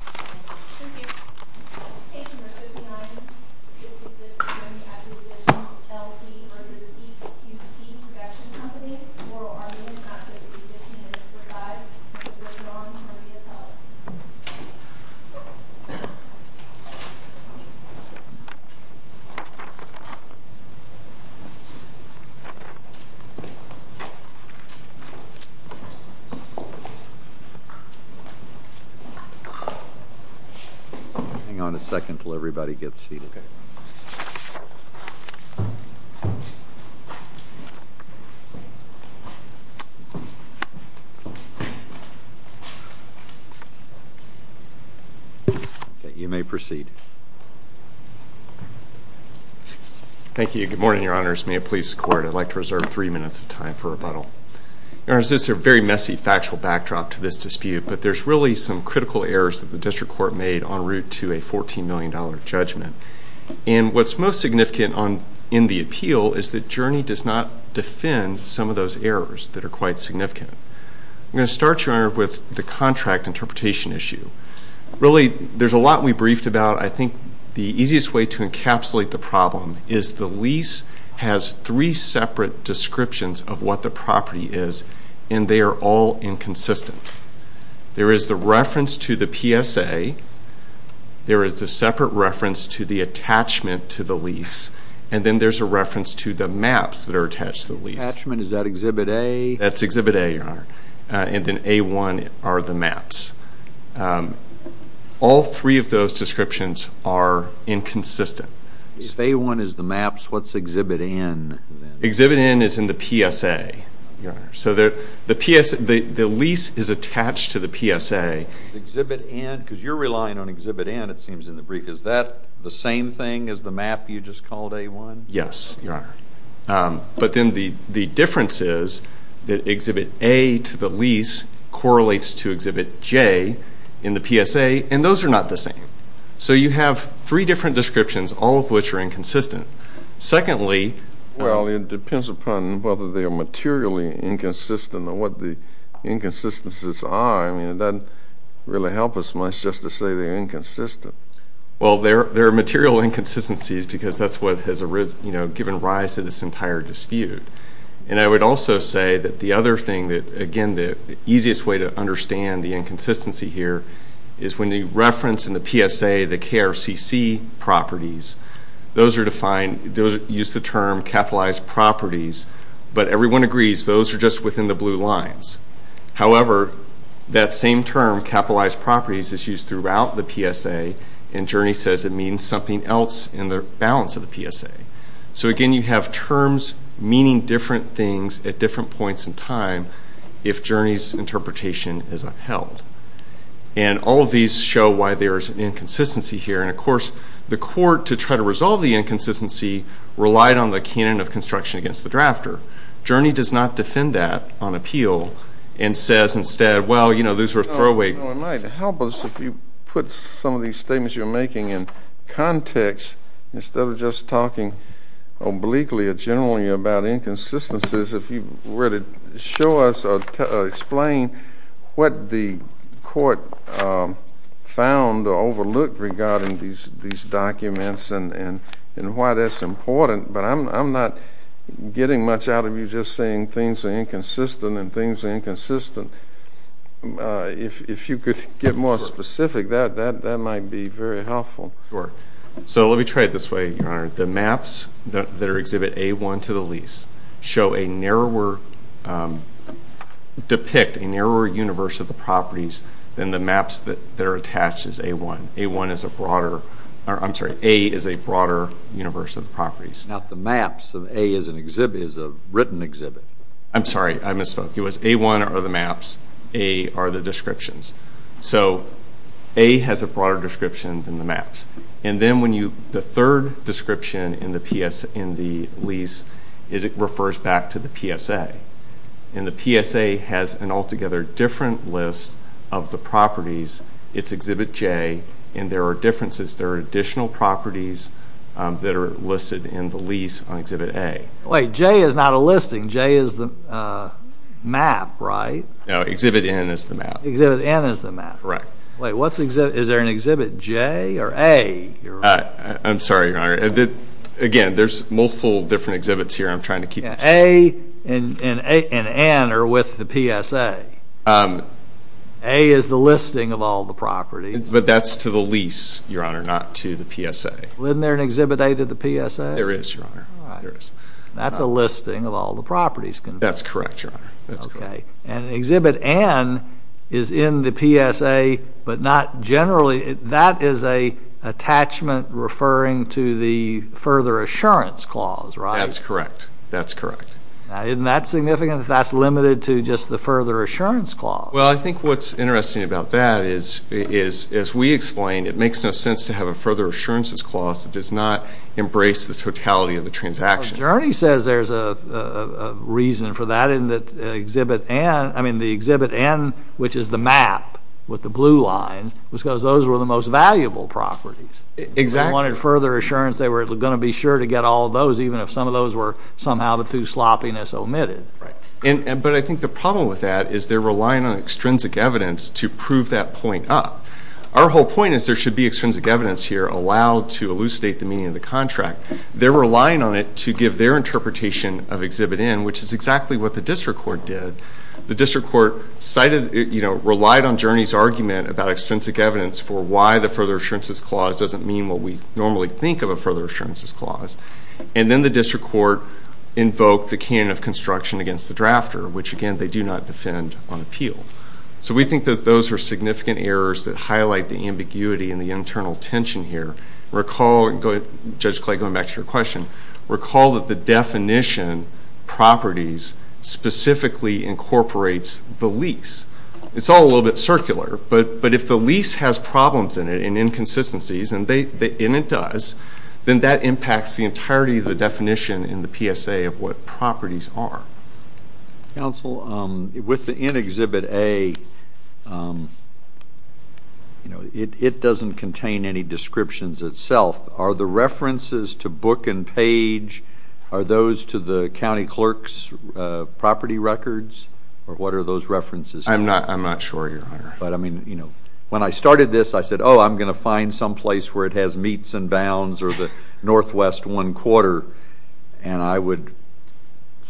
Thank you. In relation to 5956-Grimm Acquistition L too vs. EQT production company oral armeon is not included in the contract but is for non-terminal benefits rogen deo Hang on a second until everybody gets seated. You may proceed. Thank you. Good morning, your honors. May it please the court, I'd like to reserve three minutes of time for rebuttal. Your honors, this is a very messy factual backdrop to this dispute, but there's really some critical errors that the district court made en route to a $14 million judgment. And what's most significant in the appeal is that Journey does not defend some of those errors that are quite significant. I'm going to start, your honor, with the contract interpretation issue. Really, there's a lot we briefed about. I think the easiest way to encapsulate the problem is the lease has three separate descriptions of what the property is, and they are all inconsistent. There is the reference to the PSA. There is the separate reference to the attachment to the lease. And then there's a reference to the maps that are attached to the lease. Attachment, is that Exhibit A? That's Exhibit A, your honor. And then A1 are the maps. All three of those descriptions are inconsistent. If A1 is the maps, what's Exhibit N? Exhibit N is in the PSA, your honor. So the lease is attached to the PSA. Exhibit N, because you're relying on Exhibit N, it seems in the brief, is that the same thing as the map you just called A1? Yes, your honor. But then the difference is that Exhibit A to the lease correlates to Exhibit J in the PSA, and those are not the same. So you have three different descriptions, all of which are inconsistent. Secondly, Well, it depends upon whether they are materially inconsistent or what the inconsistencies are. I mean, it doesn't really help us much just to say they're inconsistent. Well, there are material inconsistencies because that's what has given rise to this entire dispute. And I would also say that the other thing that, again, the easiest way to understand the inconsistency here is when the reference in the PSA, the KRCC properties, those use the term capitalized properties, but everyone agrees those are just within the blue lines. However, that same term, capitalized properties, is used throughout the PSA, and Journey says it means something else in the balance of the PSA. So, again, you have terms meaning different things at different points in time if Journey's interpretation is upheld. And all of these show why there is an inconsistency here. And, of course, the court, to try to resolve the inconsistency, relied on the canon of construction against the drafter. Journey does not defend that on appeal and says instead, well, you know, those were throwaway. It might help us if you put some of these statements you're making in context, instead of just talking obliquely or generally about inconsistencies, if you were to show us or explain what the court found or overlooked regarding these documents and why that's important. But I'm not getting much out of you just saying things are inconsistent and things are inconsistent. If you could get more specific, that might be very helpful. Sure. So let me try it this way, Your Honor. The maps that exhibit A-1 to the lease show a narrower, depict a narrower universe of the properties than the maps that are attached as A-1. Not the maps. A is a written exhibit. I'm sorry. I misspoke. It was A-1 are the maps. A are the descriptions. So A has a broader description than the maps. And then the third description in the lease is it refers back to the PSA. And the PSA has an altogether different list of the properties. It's Exhibit J. And there are differences. There are additional properties that are listed in the lease on Exhibit A. Wait. J is not a listing. J is the map, right? No. Exhibit N is the map. Exhibit N is the map. Right. Wait. What's the exhibit? Is there an Exhibit J or A? I'm sorry, Your Honor. Again, there's multiple different exhibits here. I'm trying to keep them separate. A and N are with the PSA. A is the listing of all the properties. But that's to the lease, Your Honor, not to the PSA. Isn't there an Exhibit A to the PSA? There is, Your Honor. All right. That's a listing of all the properties. That's correct, Your Honor. Okay. And Exhibit N is in the PSA but not generally. That is an attachment referring to the further assurance clause, right? That's correct. That's correct. Now, isn't that significant if that's limited to just the further assurance clause? Well, I think what's interesting about that is, as we explained, it makes no sense to have a further assurances clause that does not embrace the totality of the transaction. Well, Journey says there's a reason for that in the Exhibit N, which is the map with the blue lines, because those were the most valuable properties. Exactly. They wanted further assurance. They were going to be sure to get all of those even if some of those were somehow through sloppiness omitted. Right. But I think the problem with that is they're relying on extrinsic evidence to prove that point up. Our whole point is there should be extrinsic evidence here allowed to elucidate the meaning of the contract. They're relying on it to give their interpretation of Exhibit N, which is exactly what the district court did. The district court cited, you know, relied on Journey's argument about extrinsic evidence for why the further assurances clause doesn't mean what we normally think of a further assurances clause. And then the district court invoked the canon of construction against the drafter, which, again, they do not defend on appeal. So we think that those are significant errors that highlight the ambiguity and the internal tension here. Judge Clay, going back to your question, recall that the definition properties specifically incorporates the lease. It's all a little bit circular, but if the lease has problems in it and inconsistencies, and it does, then that impacts the entirety of the definition in the PSA of what properties are. Counsel, with the N Exhibit A, you know, it doesn't contain any descriptions itself. Are the references to book and page, are those to the county clerk's property records, or what are those references? But, I mean, you know, when I started this, I said, oh, I'm going to find someplace where it has meets and bounds or the northwest one quarter, and I would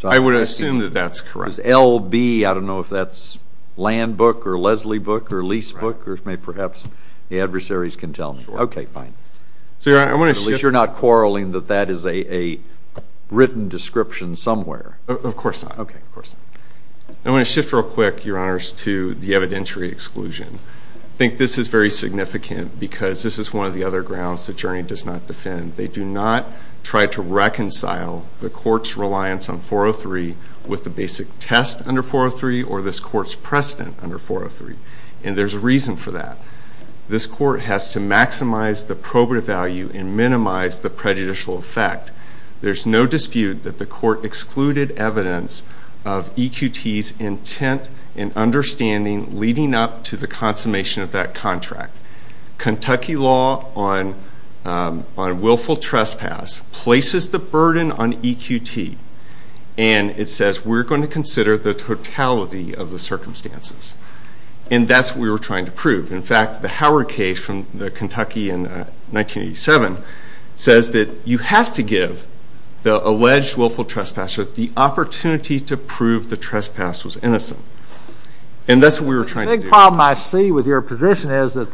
assume that that's correct. LB, I don't know if that's land book or Leslie book or lease book, or perhaps the adversaries can tell me. Okay, fine. At least you're not quarreling that that is a written description somewhere. Of course not. Okay, of course not. I want to shift real quick, Your Honors, to the evidentiary exclusion. I think this is very significant because this is one of the other grounds that Journey does not defend. They do not try to reconcile the court's reliance on 403 with the basic test under 403 or this court's precedent under 403, and there's a reason for that. This court has to maximize the probative value and minimize the prejudicial effect. There's no dispute that the court excluded evidence of EQT's intent and understanding leading up to the consummation of that contract. Kentucky law on willful trespass places the burden on EQT, and it says we're going to consider the totality of the circumstances, and that's what we were trying to prove. In fact, the Howard case from Kentucky in 1987 says that you have to give the alleged willful trespasser the opportunity to prove the trespass was innocent, and that's what we were trying to do. The big problem I see with your position is that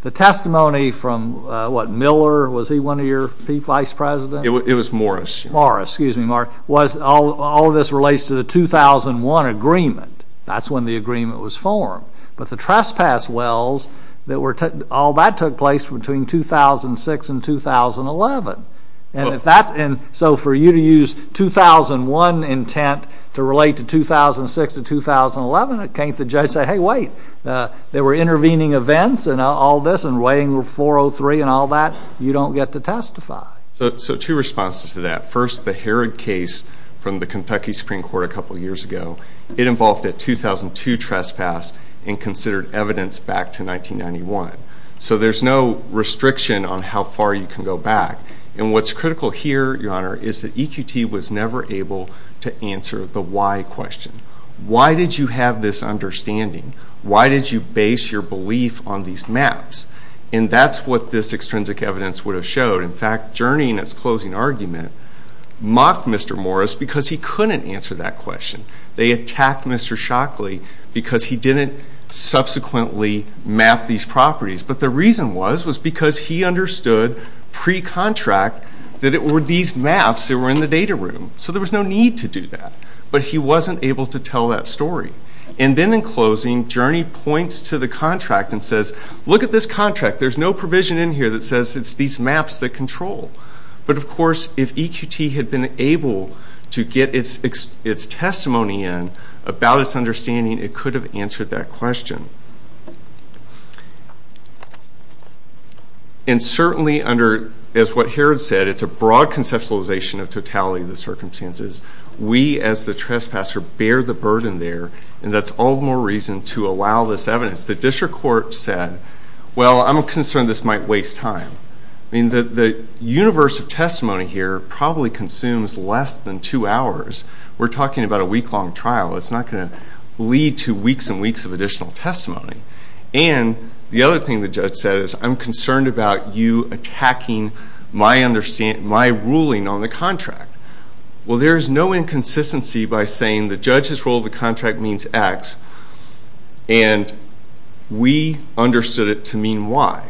the testimony from, what, Miller, was he one of your vice presidents? It was Morris. Morris. Excuse me, Mark. All of this relates to the 2001 agreement. That's when the agreement was formed. But the trespass wills, all that took place between 2006 and 2011. So for you to use 2001 intent to relate to 2006 to 2011, can't the judge say, hey, wait, they were intervening events and all this and weighing 403 and all that? You don't get to testify. So two responses to that. First, the Herod case from the Kentucky Supreme Court a couple years ago. It involved a 2002 trespass and considered evidence back to 1991. So there's no restriction on how far you can go back. And what's critical here, Your Honor, is that EQT was never able to answer the why question. Why did you have this understanding? Why did you base your belief on these maps? And that's what this extrinsic evidence would have showed. In fact, Journey, in its closing argument, mocked Mr. Morris because he couldn't answer that question. They attacked Mr. Shockley because he didn't subsequently map these properties. But the reason was was because he understood pre-contract that it were these maps that were in the data room. So there was no need to do that. But he wasn't able to tell that story. And then in closing, Journey points to the contract and says, look at this contract. There's no provision in here that says it's these maps that control. But, of course, if EQT had been able to get its testimony in about its understanding, it could have answered that question. And certainly under, as what Herod said, it's a broad conceptualization of totality of the circumstances. We, as the trespasser, bear the burden there, and that's all the more reason to allow this evidence. The district court said, well, I'm concerned this might waste time. I mean, the universe of testimony here probably consumes less than two hours. We're talking about a week-long trial. It's not going to lead to weeks and weeks of additional testimony. And the other thing the judge said is I'm concerned about you attacking my ruling on the contract. Well, there's no inconsistency by saying the judge's rule of the contract means X. And we understood it to mean Y.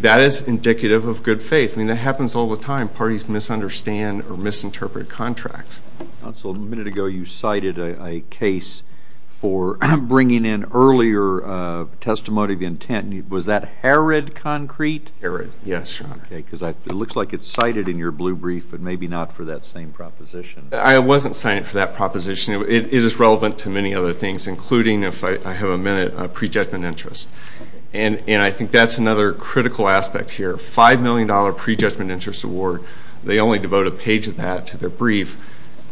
That is indicative of good faith. I mean, that happens all the time. Parties misunderstand or misinterpret contracts. Counsel, a minute ago you cited a case for bringing in earlier testimony of intent. Was that Herod concrete? Herod, yes, Your Honor. Okay, because it looks like it's cited in your blue brief, but maybe not for that same proposition. I wasn't citing it for that proposition. It is relevant to many other things, including, if I have a minute, pre-judgment interest. And I think that's another critical aspect here. A $5 million pre-judgment interest award, they only devote a page of that to their brief.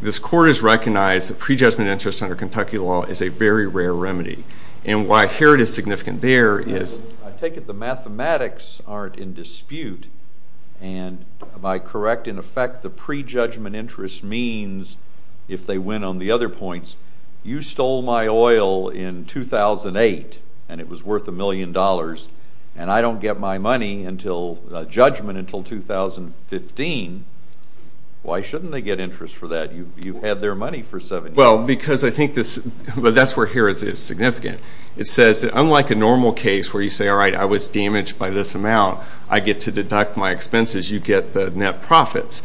This court has recognized that pre-judgment interest under Kentucky law is a very rare remedy. And why Herod is significant there is I take it the mathematics aren't in dispute. And by correct, in effect, the pre-judgment interest means, if they win on the other points, you stole my oil in 2008 and it was worth $1 million and I don't get my money until judgment until 2015. Why shouldn't they get interest for that? You had their money for seven years. Well, because I think that's where Herod is significant. It says, unlike a normal case where you say, all right, I was damaged by this amount. I get to deduct my expenses. You get the net profits.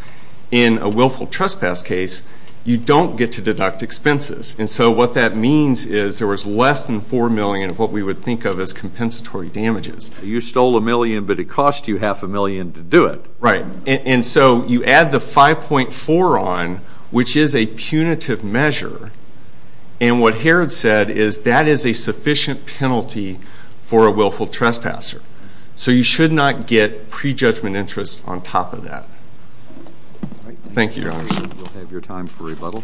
In a willful trespass case, you don't get to deduct expenses. And so what that means is there was less than $4 million of what we would think of as compensatory damages. You stole $1 million, but it cost you half a million to do it. Right. And so you add the 5.4 on, which is a punitive measure. And what Herod said is that is a sufficient penalty for a willful trespasser. So you should not get prejudgment interest on top of that. Thank you, Your Honor. We'll have your time for rebuttal.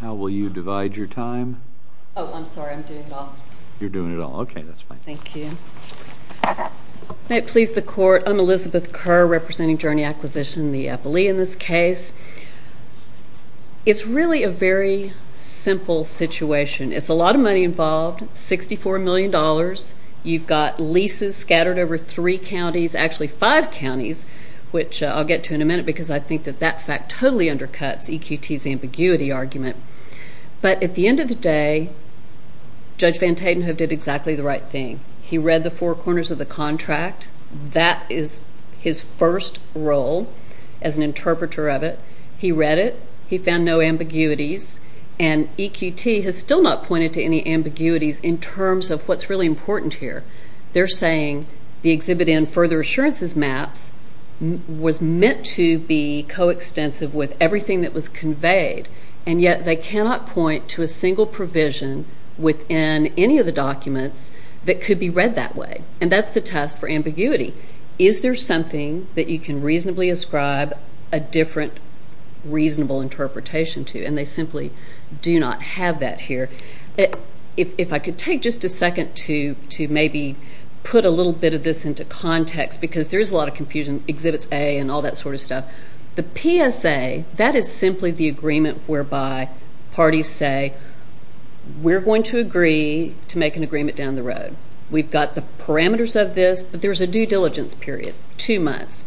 How will you divide your time? Oh, I'm sorry. I'm doing it all. You're doing it all. Okay, that's fine. Thank you. May it please the Court, I'm Elizabeth Kerr representing Journey Acquisition, the Eppley in this case. It's really a very simple situation. It's a lot of money involved, $64 million. You've got leases scattered over three counties, actually five counties, which I'll get to in a minute because I think that that fact totally undercuts EQT's ambiguity argument. But at the end of the day, Judge Van Tatenhove did exactly the right thing. He read the four corners of the contract. That is his first role as an interpreter of it. He read it. He found no ambiguities. And EQT has still not pointed to any ambiguities in terms of what's really important here. They're saying the exhibit in further assurances maps was meant to be coextensive with everything that was conveyed, and yet they cannot point to a single provision within any of the documents that could be read that way. And that's the test for ambiguity. Is there something that you can reasonably ascribe a different reasonable interpretation to? And they simply do not have that here. If I could take just a second to maybe put a little bit of this into context, because there is a lot of confusion, Exhibits A and all that sort of stuff. The PSA, that is simply the agreement whereby parties say, we're going to agree to make an agreement down the road. We've got the parameters of this, but there's a due diligence period, two months.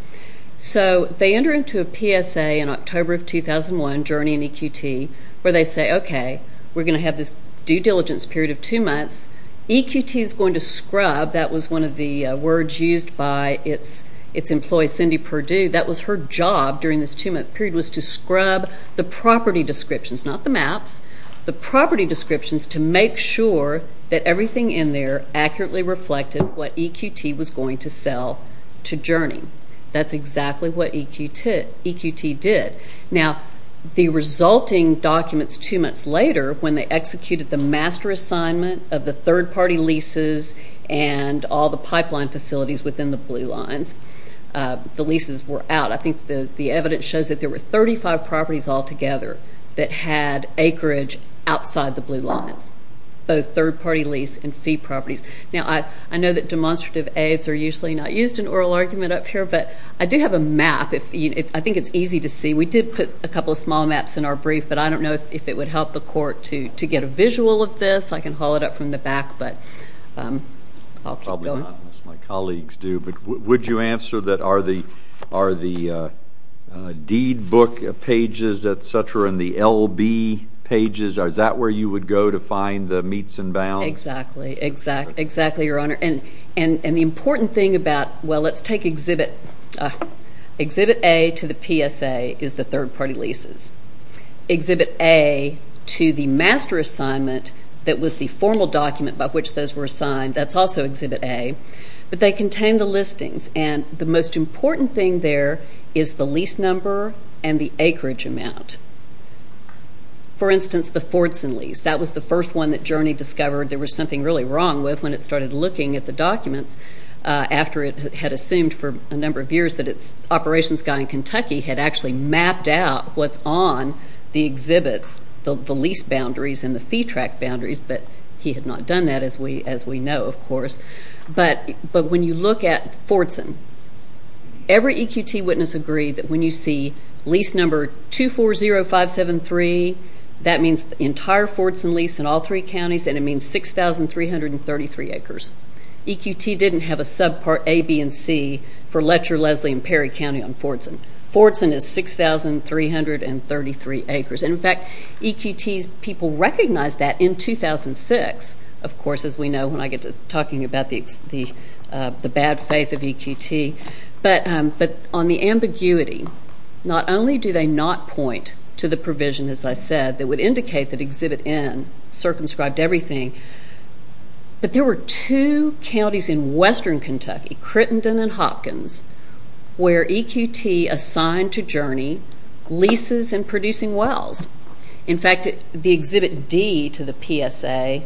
So they enter into a PSA in October of 2001, Journey and EQT, where they say, okay, we're going to have this due diligence period of two months. EQT is going to scrub. That was one of the words used by its employee, Cindy Perdue. That was her job during this two-month period was to scrub the property descriptions, not the maps, the property descriptions to make sure that everything in there accurately reflected what EQT was going to sell to Journey. That's exactly what EQT did. Now, the resulting documents two months later, when they executed the master assignment of the third-party leases and all the pipeline facilities within the Blue Lines, the leases were out. I think the evidence shows that there were 35 properties altogether that had acreage outside the Blue Lines, both third-party lease and fee properties. Now, I know that demonstrative aids are usually not used in oral argument up here, but I do have a map. I think it's easy to see. We did put a couple of small maps in our brief, but I don't know if it would help the court to get a visual of this. I can haul it up from the back, but I'll keep going. Probably not, unless my colleagues do. But would you answer that are the deed book pages, et cetera, and the LB pages, is that where you would go to find the meets and bounds? Exactly, Your Honor. And the important thing about, well, let's take Exhibit A to the PSA is the third-party leases. Exhibit A to the master assignment that was the formal document by which those were assigned, that's also Exhibit A. But they contain the listings, and the most important thing there is the lease number and the acreage amount. For instance, the Fordson lease. That was the first one that Journey discovered there was something really wrong with when it started looking at the documents after it had assumed for a number of years that its operations guy in Kentucky had actually mapped out what's on the exhibits, the lease boundaries and the fee track boundaries. But he had not done that, as we know, of course. But when you look at Fordson, every EQT witness agreed that when you see lease number 240573, that means the entire Fordson lease in all three counties, and it means 6,333 acres. EQT didn't have a subpart A, B, and C for Letcher, Leslie, and Perry County on Fordson. Fordson is 6,333 acres. And, in fact, EQTs, people recognized that in 2006, of course, as we know when I get to talking about the bad faith of EQT. But on the ambiguity, not only do they not point to the provision, as I said, that would indicate that Exhibit N circumscribed everything, but there were two counties in western Kentucky, Crittenden and Hopkins, where EQT assigned to Journey leases and producing wells. In fact, the Exhibit D to the PSA,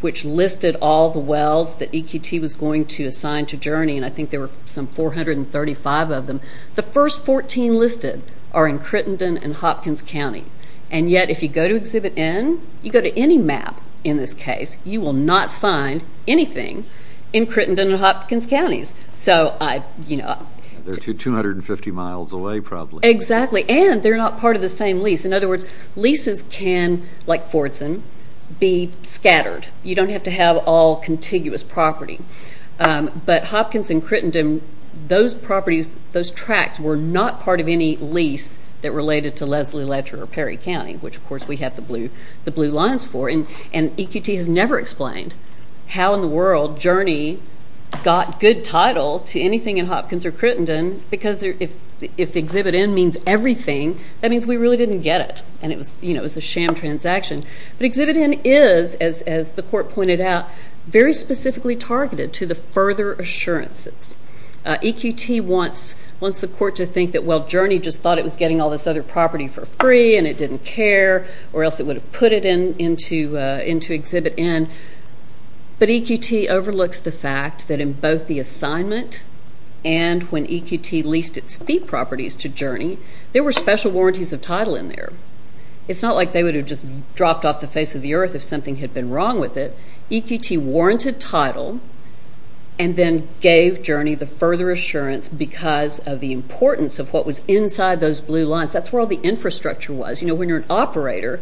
which listed all the wells that EQT was going to assign to Journey, and I think there were some 435 of them, the first 14 listed are in Crittenden and Hopkins County. And yet, if you go to Exhibit N, you go to any map in this case, you will not find anything in Crittenden and Hopkins counties. They're 250 miles away, probably. Exactly, and they're not part of the same lease. In other words, leases can, like Fordson, be scattered. You don't have to have all contiguous property. But Hopkins and Crittenden, those properties, those tracts, were not part of any lease that related to Leslie Ledger or Perry County, which, of course, we have the blue lines for. And EQT has never explained how in the world Journey got good title to anything in Hopkins or Crittenden, because if Exhibit N means everything, that means we really didn't get it, and it was a sham transaction. But Exhibit N is, as the court pointed out, very specifically targeted to the further assurances. EQT wants the court to think that, well, Journey just thought it was getting all this other property for free and it didn't care, or else it would have put it into Exhibit N. But EQT overlooks the fact that in both the assignment and when EQT leased its fee properties to Journey, there were special warranties of title in there. It's not like they would have just dropped off the face of the earth if something had been wrong with it. EQT warranted title and then gave Journey the further assurance because of the importance of what was inside those blue lines. That's where all the infrastructure was. You know, when you're an operator,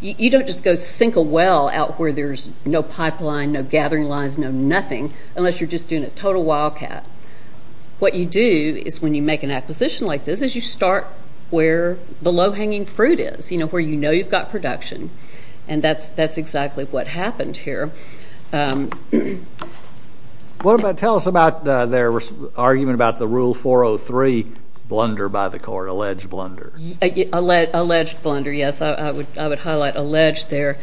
you don't just go sink a well out where there's no pipeline, no gathering lines, no nothing, unless you're just doing a total wildcat. What you do is when you make an acquisition like this is you start where the low-hanging fruit is, you know, where you know you've got production. And that's exactly what happened here. Tell us about their argument about the Rule 403 blunder by the court, alleged blunders. Alleged blunder, yes. I would highlight alleged there.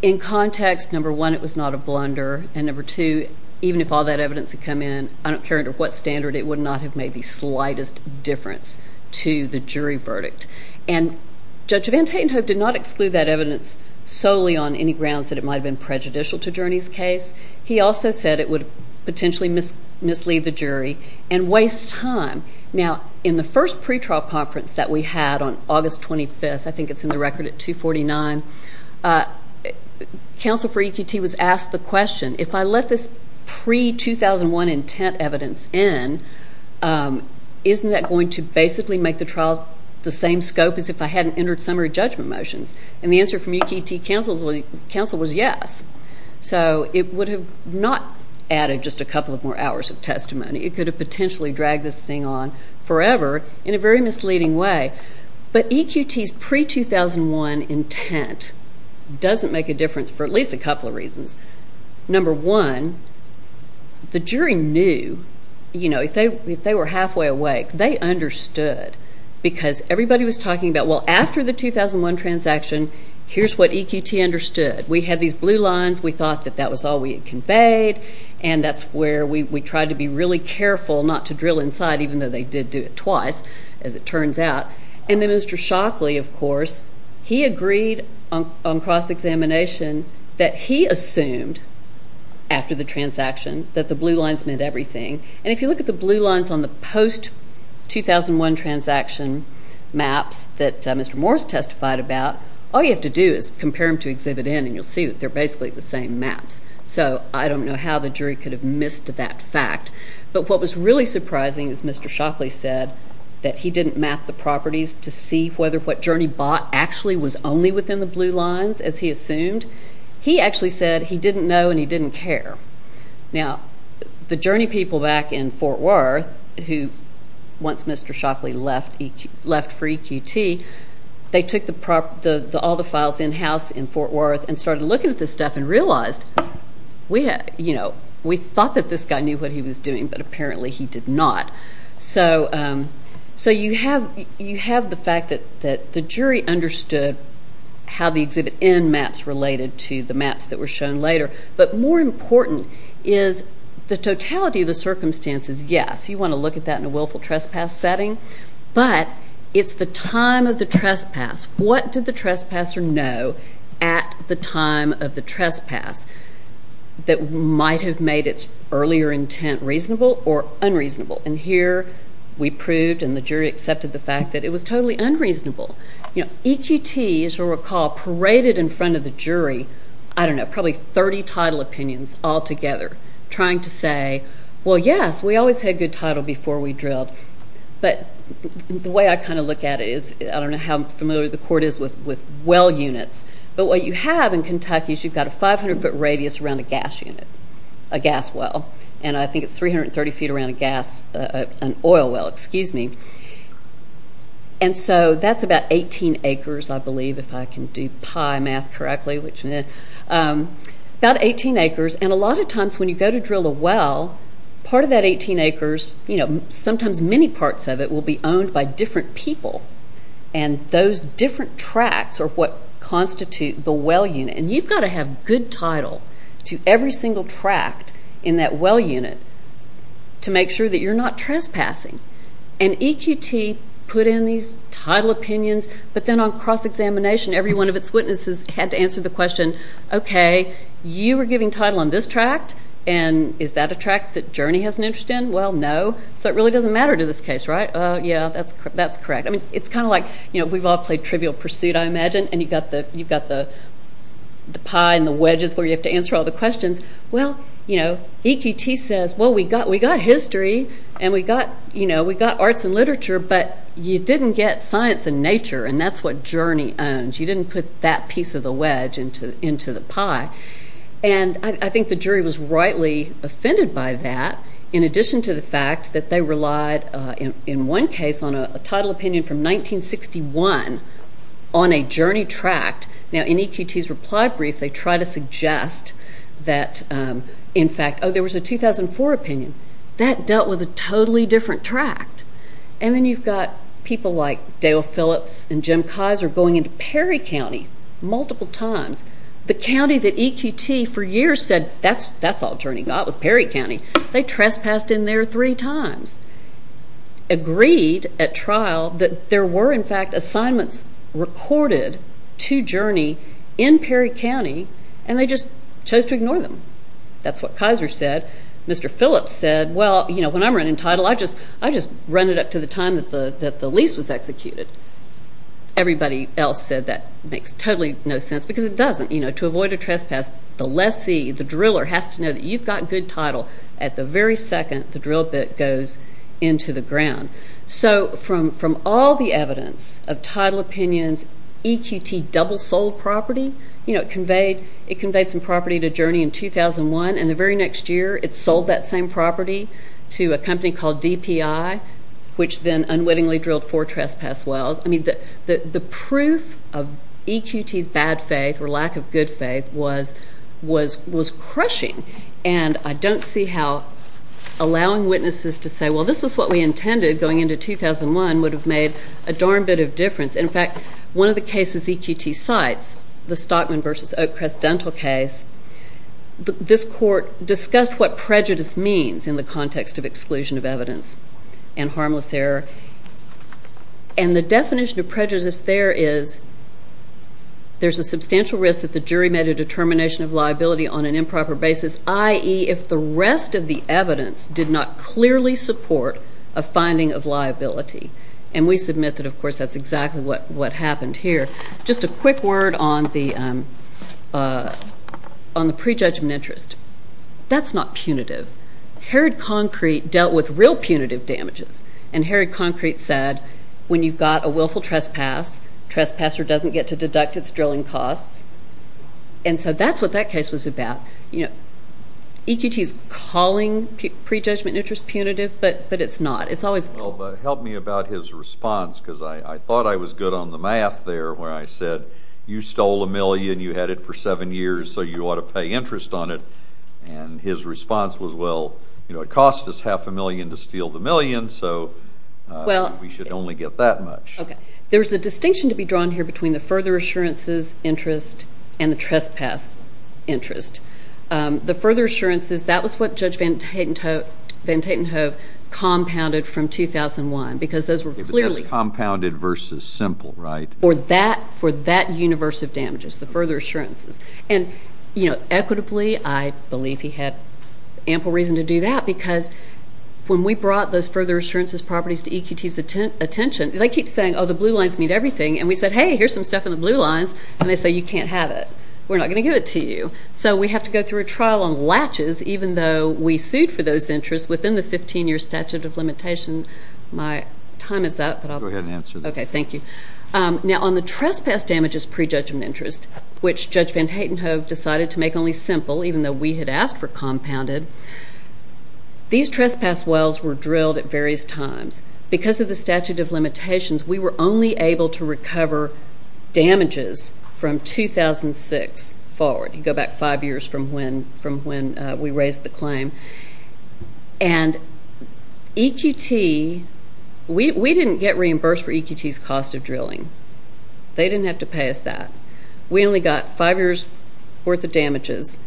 In context, number one, it was not a blunder. And number two, even if all that evidence had come in, I don't care under what standard, it would not have made the slightest difference to the jury verdict. And Judge Van Tatenhove did not exclude that evidence solely on any grounds that it might have been prejudicial to Journey's case. He also said it would potentially mislead the jury and waste time. Now, in the first pretrial conference that we had on August 25th, I think it's in the record at 249, counsel for EQT was asked the question, if I let this pre-2001 intent evidence in, isn't that going to basically make the trial the same scope as if I hadn't entered summary judgment motions? And the answer from EQT counsel was yes. So it would have not added just a couple of more hours of testimony. It could have potentially dragged this thing on forever in a very misleading way. But EQT's pre-2001 intent doesn't make a difference for at least a couple of reasons. Number one, the jury knew. If they were halfway awake, they understood because everybody was talking about, well, after the 2001 transaction, here's what EQT understood. We had these blue lines. We thought that that was all we had conveyed. And that's where we tried to be really careful not to drill inside, even though they did do it twice, as it turns out. And then Mr. Shockley, of course, he agreed on cross-examination that he assumed, after the transaction, that the blue lines meant everything. And if you look at the blue lines on the post-2001 transaction maps that Mr. Morris testified about, all you have to do is compare them to exhibit N, and you'll see that they're basically the same maps. So I don't know how the jury could have missed that fact. But what was really surprising is Mr. Shockley said that he didn't map the properties to see whether what Journey bought actually was only within the blue lines, as he assumed. He actually said he didn't know and he didn't care. Now, the Journey people back in Fort Worth who, once Mr. Shockley left for EQT, they took all the files in-house in Fort Worth and started looking at this stuff and realized, we thought that this guy knew what he was doing, but apparently he did not. So you have the fact that the jury understood how the exhibit N maps related to the maps that were shown later. But more important is the totality of the circumstances, yes, you want to look at that in a willful trespass setting, but it's the time of the trespass. What did the trespasser know at the time of the trespass that might have made its earlier intent reasonable or unreasonable? And here we proved and the jury accepted the fact that it was totally unreasonable. EQT, as you'll recall, paraded in front of the jury, I don't know, probably 30 title opinions altogether, trying to say, well, yes, we always had good title before we drilled. But the way I kind of look at it is, I don't know how familiar the court is with well units, but what you have in Kentucky is you've got a 500-foot radius around a gas unit, a gas well. And I think it's 330 feet around a gas, an oil well, excuse me. And so that's about 18 acres, I believe, if I can do pie math correctly, which, meh, about 18 acres. And a lot of times when you go to drill a well, part of that 18 acres, you know, sometimes many parts of it will be owned by different people. And those different tracts are what constitute the well unit. And you've got to have good title to every single tract in that well unit to make sure that you're not trespassing. And EQT put in these title opinions, but then on cross-examination, every one of its witnesses had to answer the question, okay, you were giving title on this tract, and is that a tract that Journey has an interest in? Well, no. So it really doesn't matter to this case, right? Yeah, that's correct. I mean, it's kind of like, you know, we've all played Trivial Pursuit, I imagine, and you've got the pie and the wedges where you have to answer all the questions. Well, you know, EQT says, well, we got history and we got arts and literature, but you didn't get science and nature, and that's what Journey owns. You didn't put that piece of the wedge into the pie. And I think the jury was rightly offended by that, in addition to the fact that they relied, in one case, on a title opinion from 1961 on a Journey tract. Now, in EQT's reply brief, they try to suggest that, in fact, oh, there was a 2004 opinion. That dealt with a totally different tract. And then you've got people like Dale Phillips and Jim Kaiser going into Perry County multiple times. The county that EQT for years said, that's all Journey got was Perry County. They trespassed in there three times, agreed at trial that there were, in fact, assignments recorded to Journey in Perry County, and they just chose to ignore them. That's what Kaiser said. Mr. Phillips said, well, you know, when I'm running title, I just run it up to the time that the lease was executed. Everybody else said that makes totally no sense, because it doesn't. You know, to avoid a trespass, the lessee, the driller, has to know that you've got good title at the very second the drill bit goes into the ground. So from all the evidence of title opinions, EQT double sold property. You know, it conveyed some property to Journey in 2001. And the very next year, it sold that same property to a company called DPI, which then unwittingly drilled four trespass wells. I mean, the proof of EQT's bad faith or lack of good faith was crushing. And I don't see how allowing witnesses to say, well, this is what we intended going into 2001, would have made a darn bit of difference. In fact, one of the cases EQT cites, the Stockman v. Oakcrest dental case, this court discussed what prejudice means in the context of exclusion of evidence and harmless error. And the definition of prejudice there is there's a substantial risk that the jury made a determination of liability on an improper basis, i.e., if the rest of the evidence did not clearly support a finding of liability. And we submit that, of course, that's exactly what happened here. Just a quick word on the prejudgment interest. That's not punitive. Herod Concrete dealt with real punitive damages. And Herod Concrete said, when you've got a willful trespass, trespasser doesn't get to deduct its drilling costs. And so that's what that case was about. EQT is calling prejudgment interest punitive, but it's not. Help me about his response, because I thought I was good on the math there when I said, you stole a million, you had it for seven years, so you ought to pay interest on it. And his response was, well, it cost us half a million to steal the million, so we should only get that much. There's a distinction to be drawn here between the further assurances interest and the trespass interest. The further assurances, that was what Judge Van Tatenhove compounded from 2001, because those were clearly. But that's compounded versus simple, right? Or that for that universe of damages, the further assurances. And, you know, equitably, I believe he had ample reason to do that, because when we brought those further assurances properties to EQT's attention, they keep saying, oh, the blue lines mean everything. And we said, hey, here's some stuff in the blue lines. And they say, you can't have it. We're not going to give it to you. So we have to go through a trial on latches, even though we sued for those interests within the 15-year statute of limitations. My time is up. Go ahead and answer that. Okay, thank you. Now, on the trespass damages prejudgment interest, which Judge Van Tatenhove decided to make only simple, even though we had asked for compounded, these trespass wells were drilled at various times. Because of the statute of limitations, we were only able to recover damages from 2006 forward. You go back five years from when we raised the claim. And EQT, we didn't get reimbursed for EQT's cost of drilling. They didn't have to pay us that. We only got five years' worth of damages.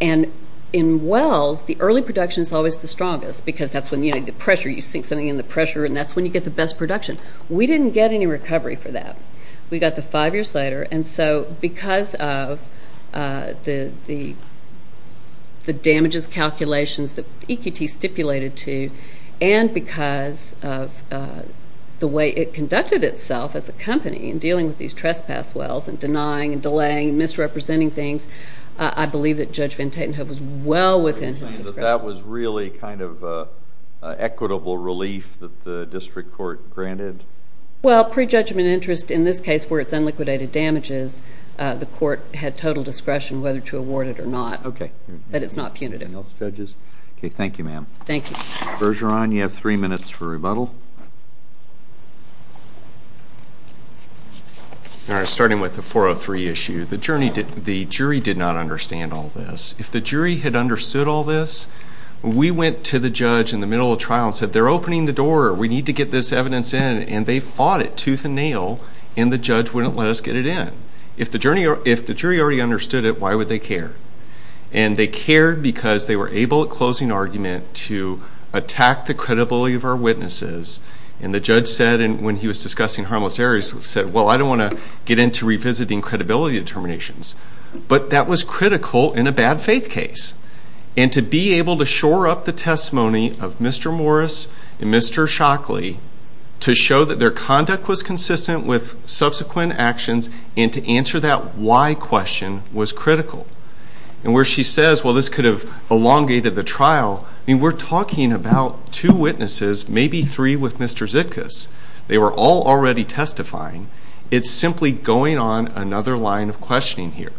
And in wells, the early production is always the strongest, because that's when you need the pressure. You sink something in the pressure, and that's when you get the best production. We didn't get any recovery for that. We got the five years later. And so because of the damages calculations that EQT stipulated to, and because of the way it conducted itself as a company in dealing with these trespass wells and denying and delaying and misrepresenting things, I believe that Judge Van Tatenhove was well within his discretion. So that was really kind of equitable relief that the district court granted? Well, prejudgment interest in this case where it's unliquidated damages, the court had total discretion whether to award it or not. Okay. But it's not punitive. Anything else, judges? Okay, thank you, ma'am. Thank you. Bergeron, you have three minutes for rebuttal. Starting with the 403 issue, the jury did not understand all this. If the jury had understood all this, we went to the judge in the middle of trial and said, they're opening the door, we need to get this evidence in, and they fought it tooth and nail and the judge wouldn't let us get it in. If the jury already understood it, why would they care? And they cared because they were able at closing argument to attack the credibility of our witnesses, and the judge said when he was discussing harmless areas, he said, well, I don't want to get into revisiting credibility determinations. But that was critical in a bad faith case. And to be able to shore up the testimony of Mr. Morris and Mr. Shockley to show that their conduct was consistent with subsequent actions and to answer that why question was critical. And where she says, well, this could have elongated the trial, I mean, we're talking about two witnesses, maybe three with Mr. Zitkus. They were all already testifying. It's simply going on another line of questioning here.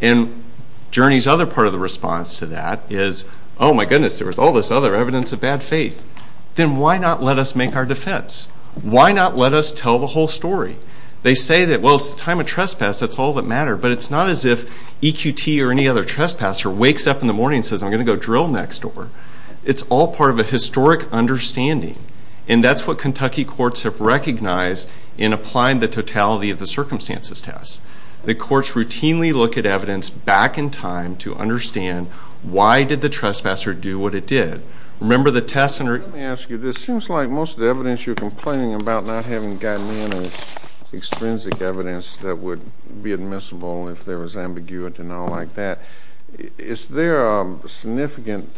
And Journey's other part of the response to that is, oh, my goodness, there was all this other evidence of bad faith. Then why not let us make our defense? Why not let us tell the whole story? They say that, well, it's the time of trespass, that's all that mattered, but it's not as if EQT or any other trespasser wakes up in the morning and says, I'm going to go drill next door. It's all part of a historic understanding, and that's what Kentucky courts have recognized in applying the totality of the circumstances test. The courts routinely look at evidence back in time to understand why did the trespasser do what it did. Let me ask you this. It seems like most of the evidence you're complaining about not having gotten in is extrinsic evidence that would be admissible if there was ambiguity and all like that. Is there significant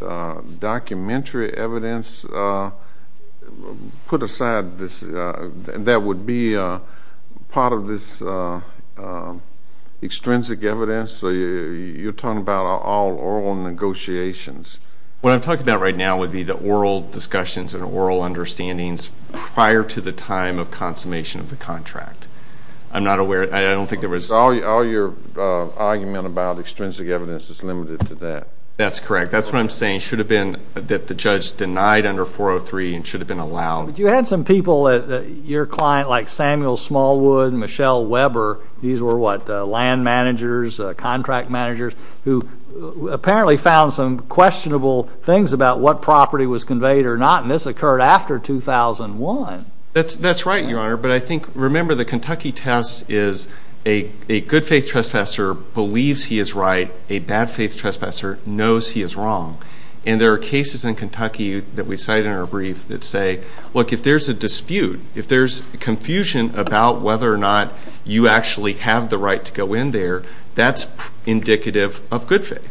documentary evidence put aside that would be part of this extrinsic evidence? You're talking about all oral negotiations. What I'm talking about right now would be the oral discussions and oral understandings prior to the time of consummation of the contract. I'm not aware. All your argument about extrinsic evidence is limited to that. That's correct. That's what I'm saying. It should have been that the judge denied under 403 and it should have been allowed. But you had some people at your client like Samuel Smallwood and Michelle Weber. These were land managers, contract managers, who apparently found some questionable things about what property was conveyed or not, and this occurred after 2001. That's right, Your Honor. But I think, remember, the Kentucky test is a good-faith trespasser believes he is right. A bad-faith trespasser knows he is wrong. And there are cases in Kentucky that we cite in our brief that say, look, if there's a dispute, if there's confusion about whether or not you actually have the right to go in there, that's indicative of good faith.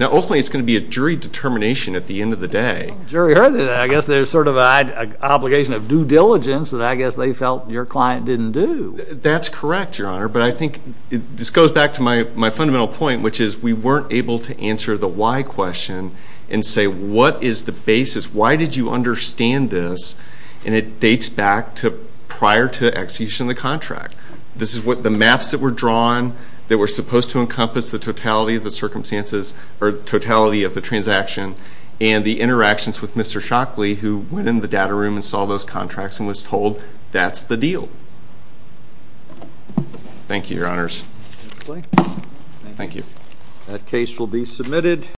Now, ultimately, it's going to be a jury determination at the end of the day. Jury heard that. I guess there's sort of an obligation of due diligence that I guess they felt your client didn't do. That's correct, Your Honor. But I think this goes back to my fundamental point, which is we weren't able to answer the why question and say what is the basis, why did you understand this, and it dates back to prior to execution of the contract. This is what the maps that were drawn that were supposed to encompass the totality of the circumstances or totality of the transaction and the interactions with Mr. Shockley, who went in the data room and saw those contracts and was told that's the deal. Thank you, Your Honors. Thank you. That case will be submitted.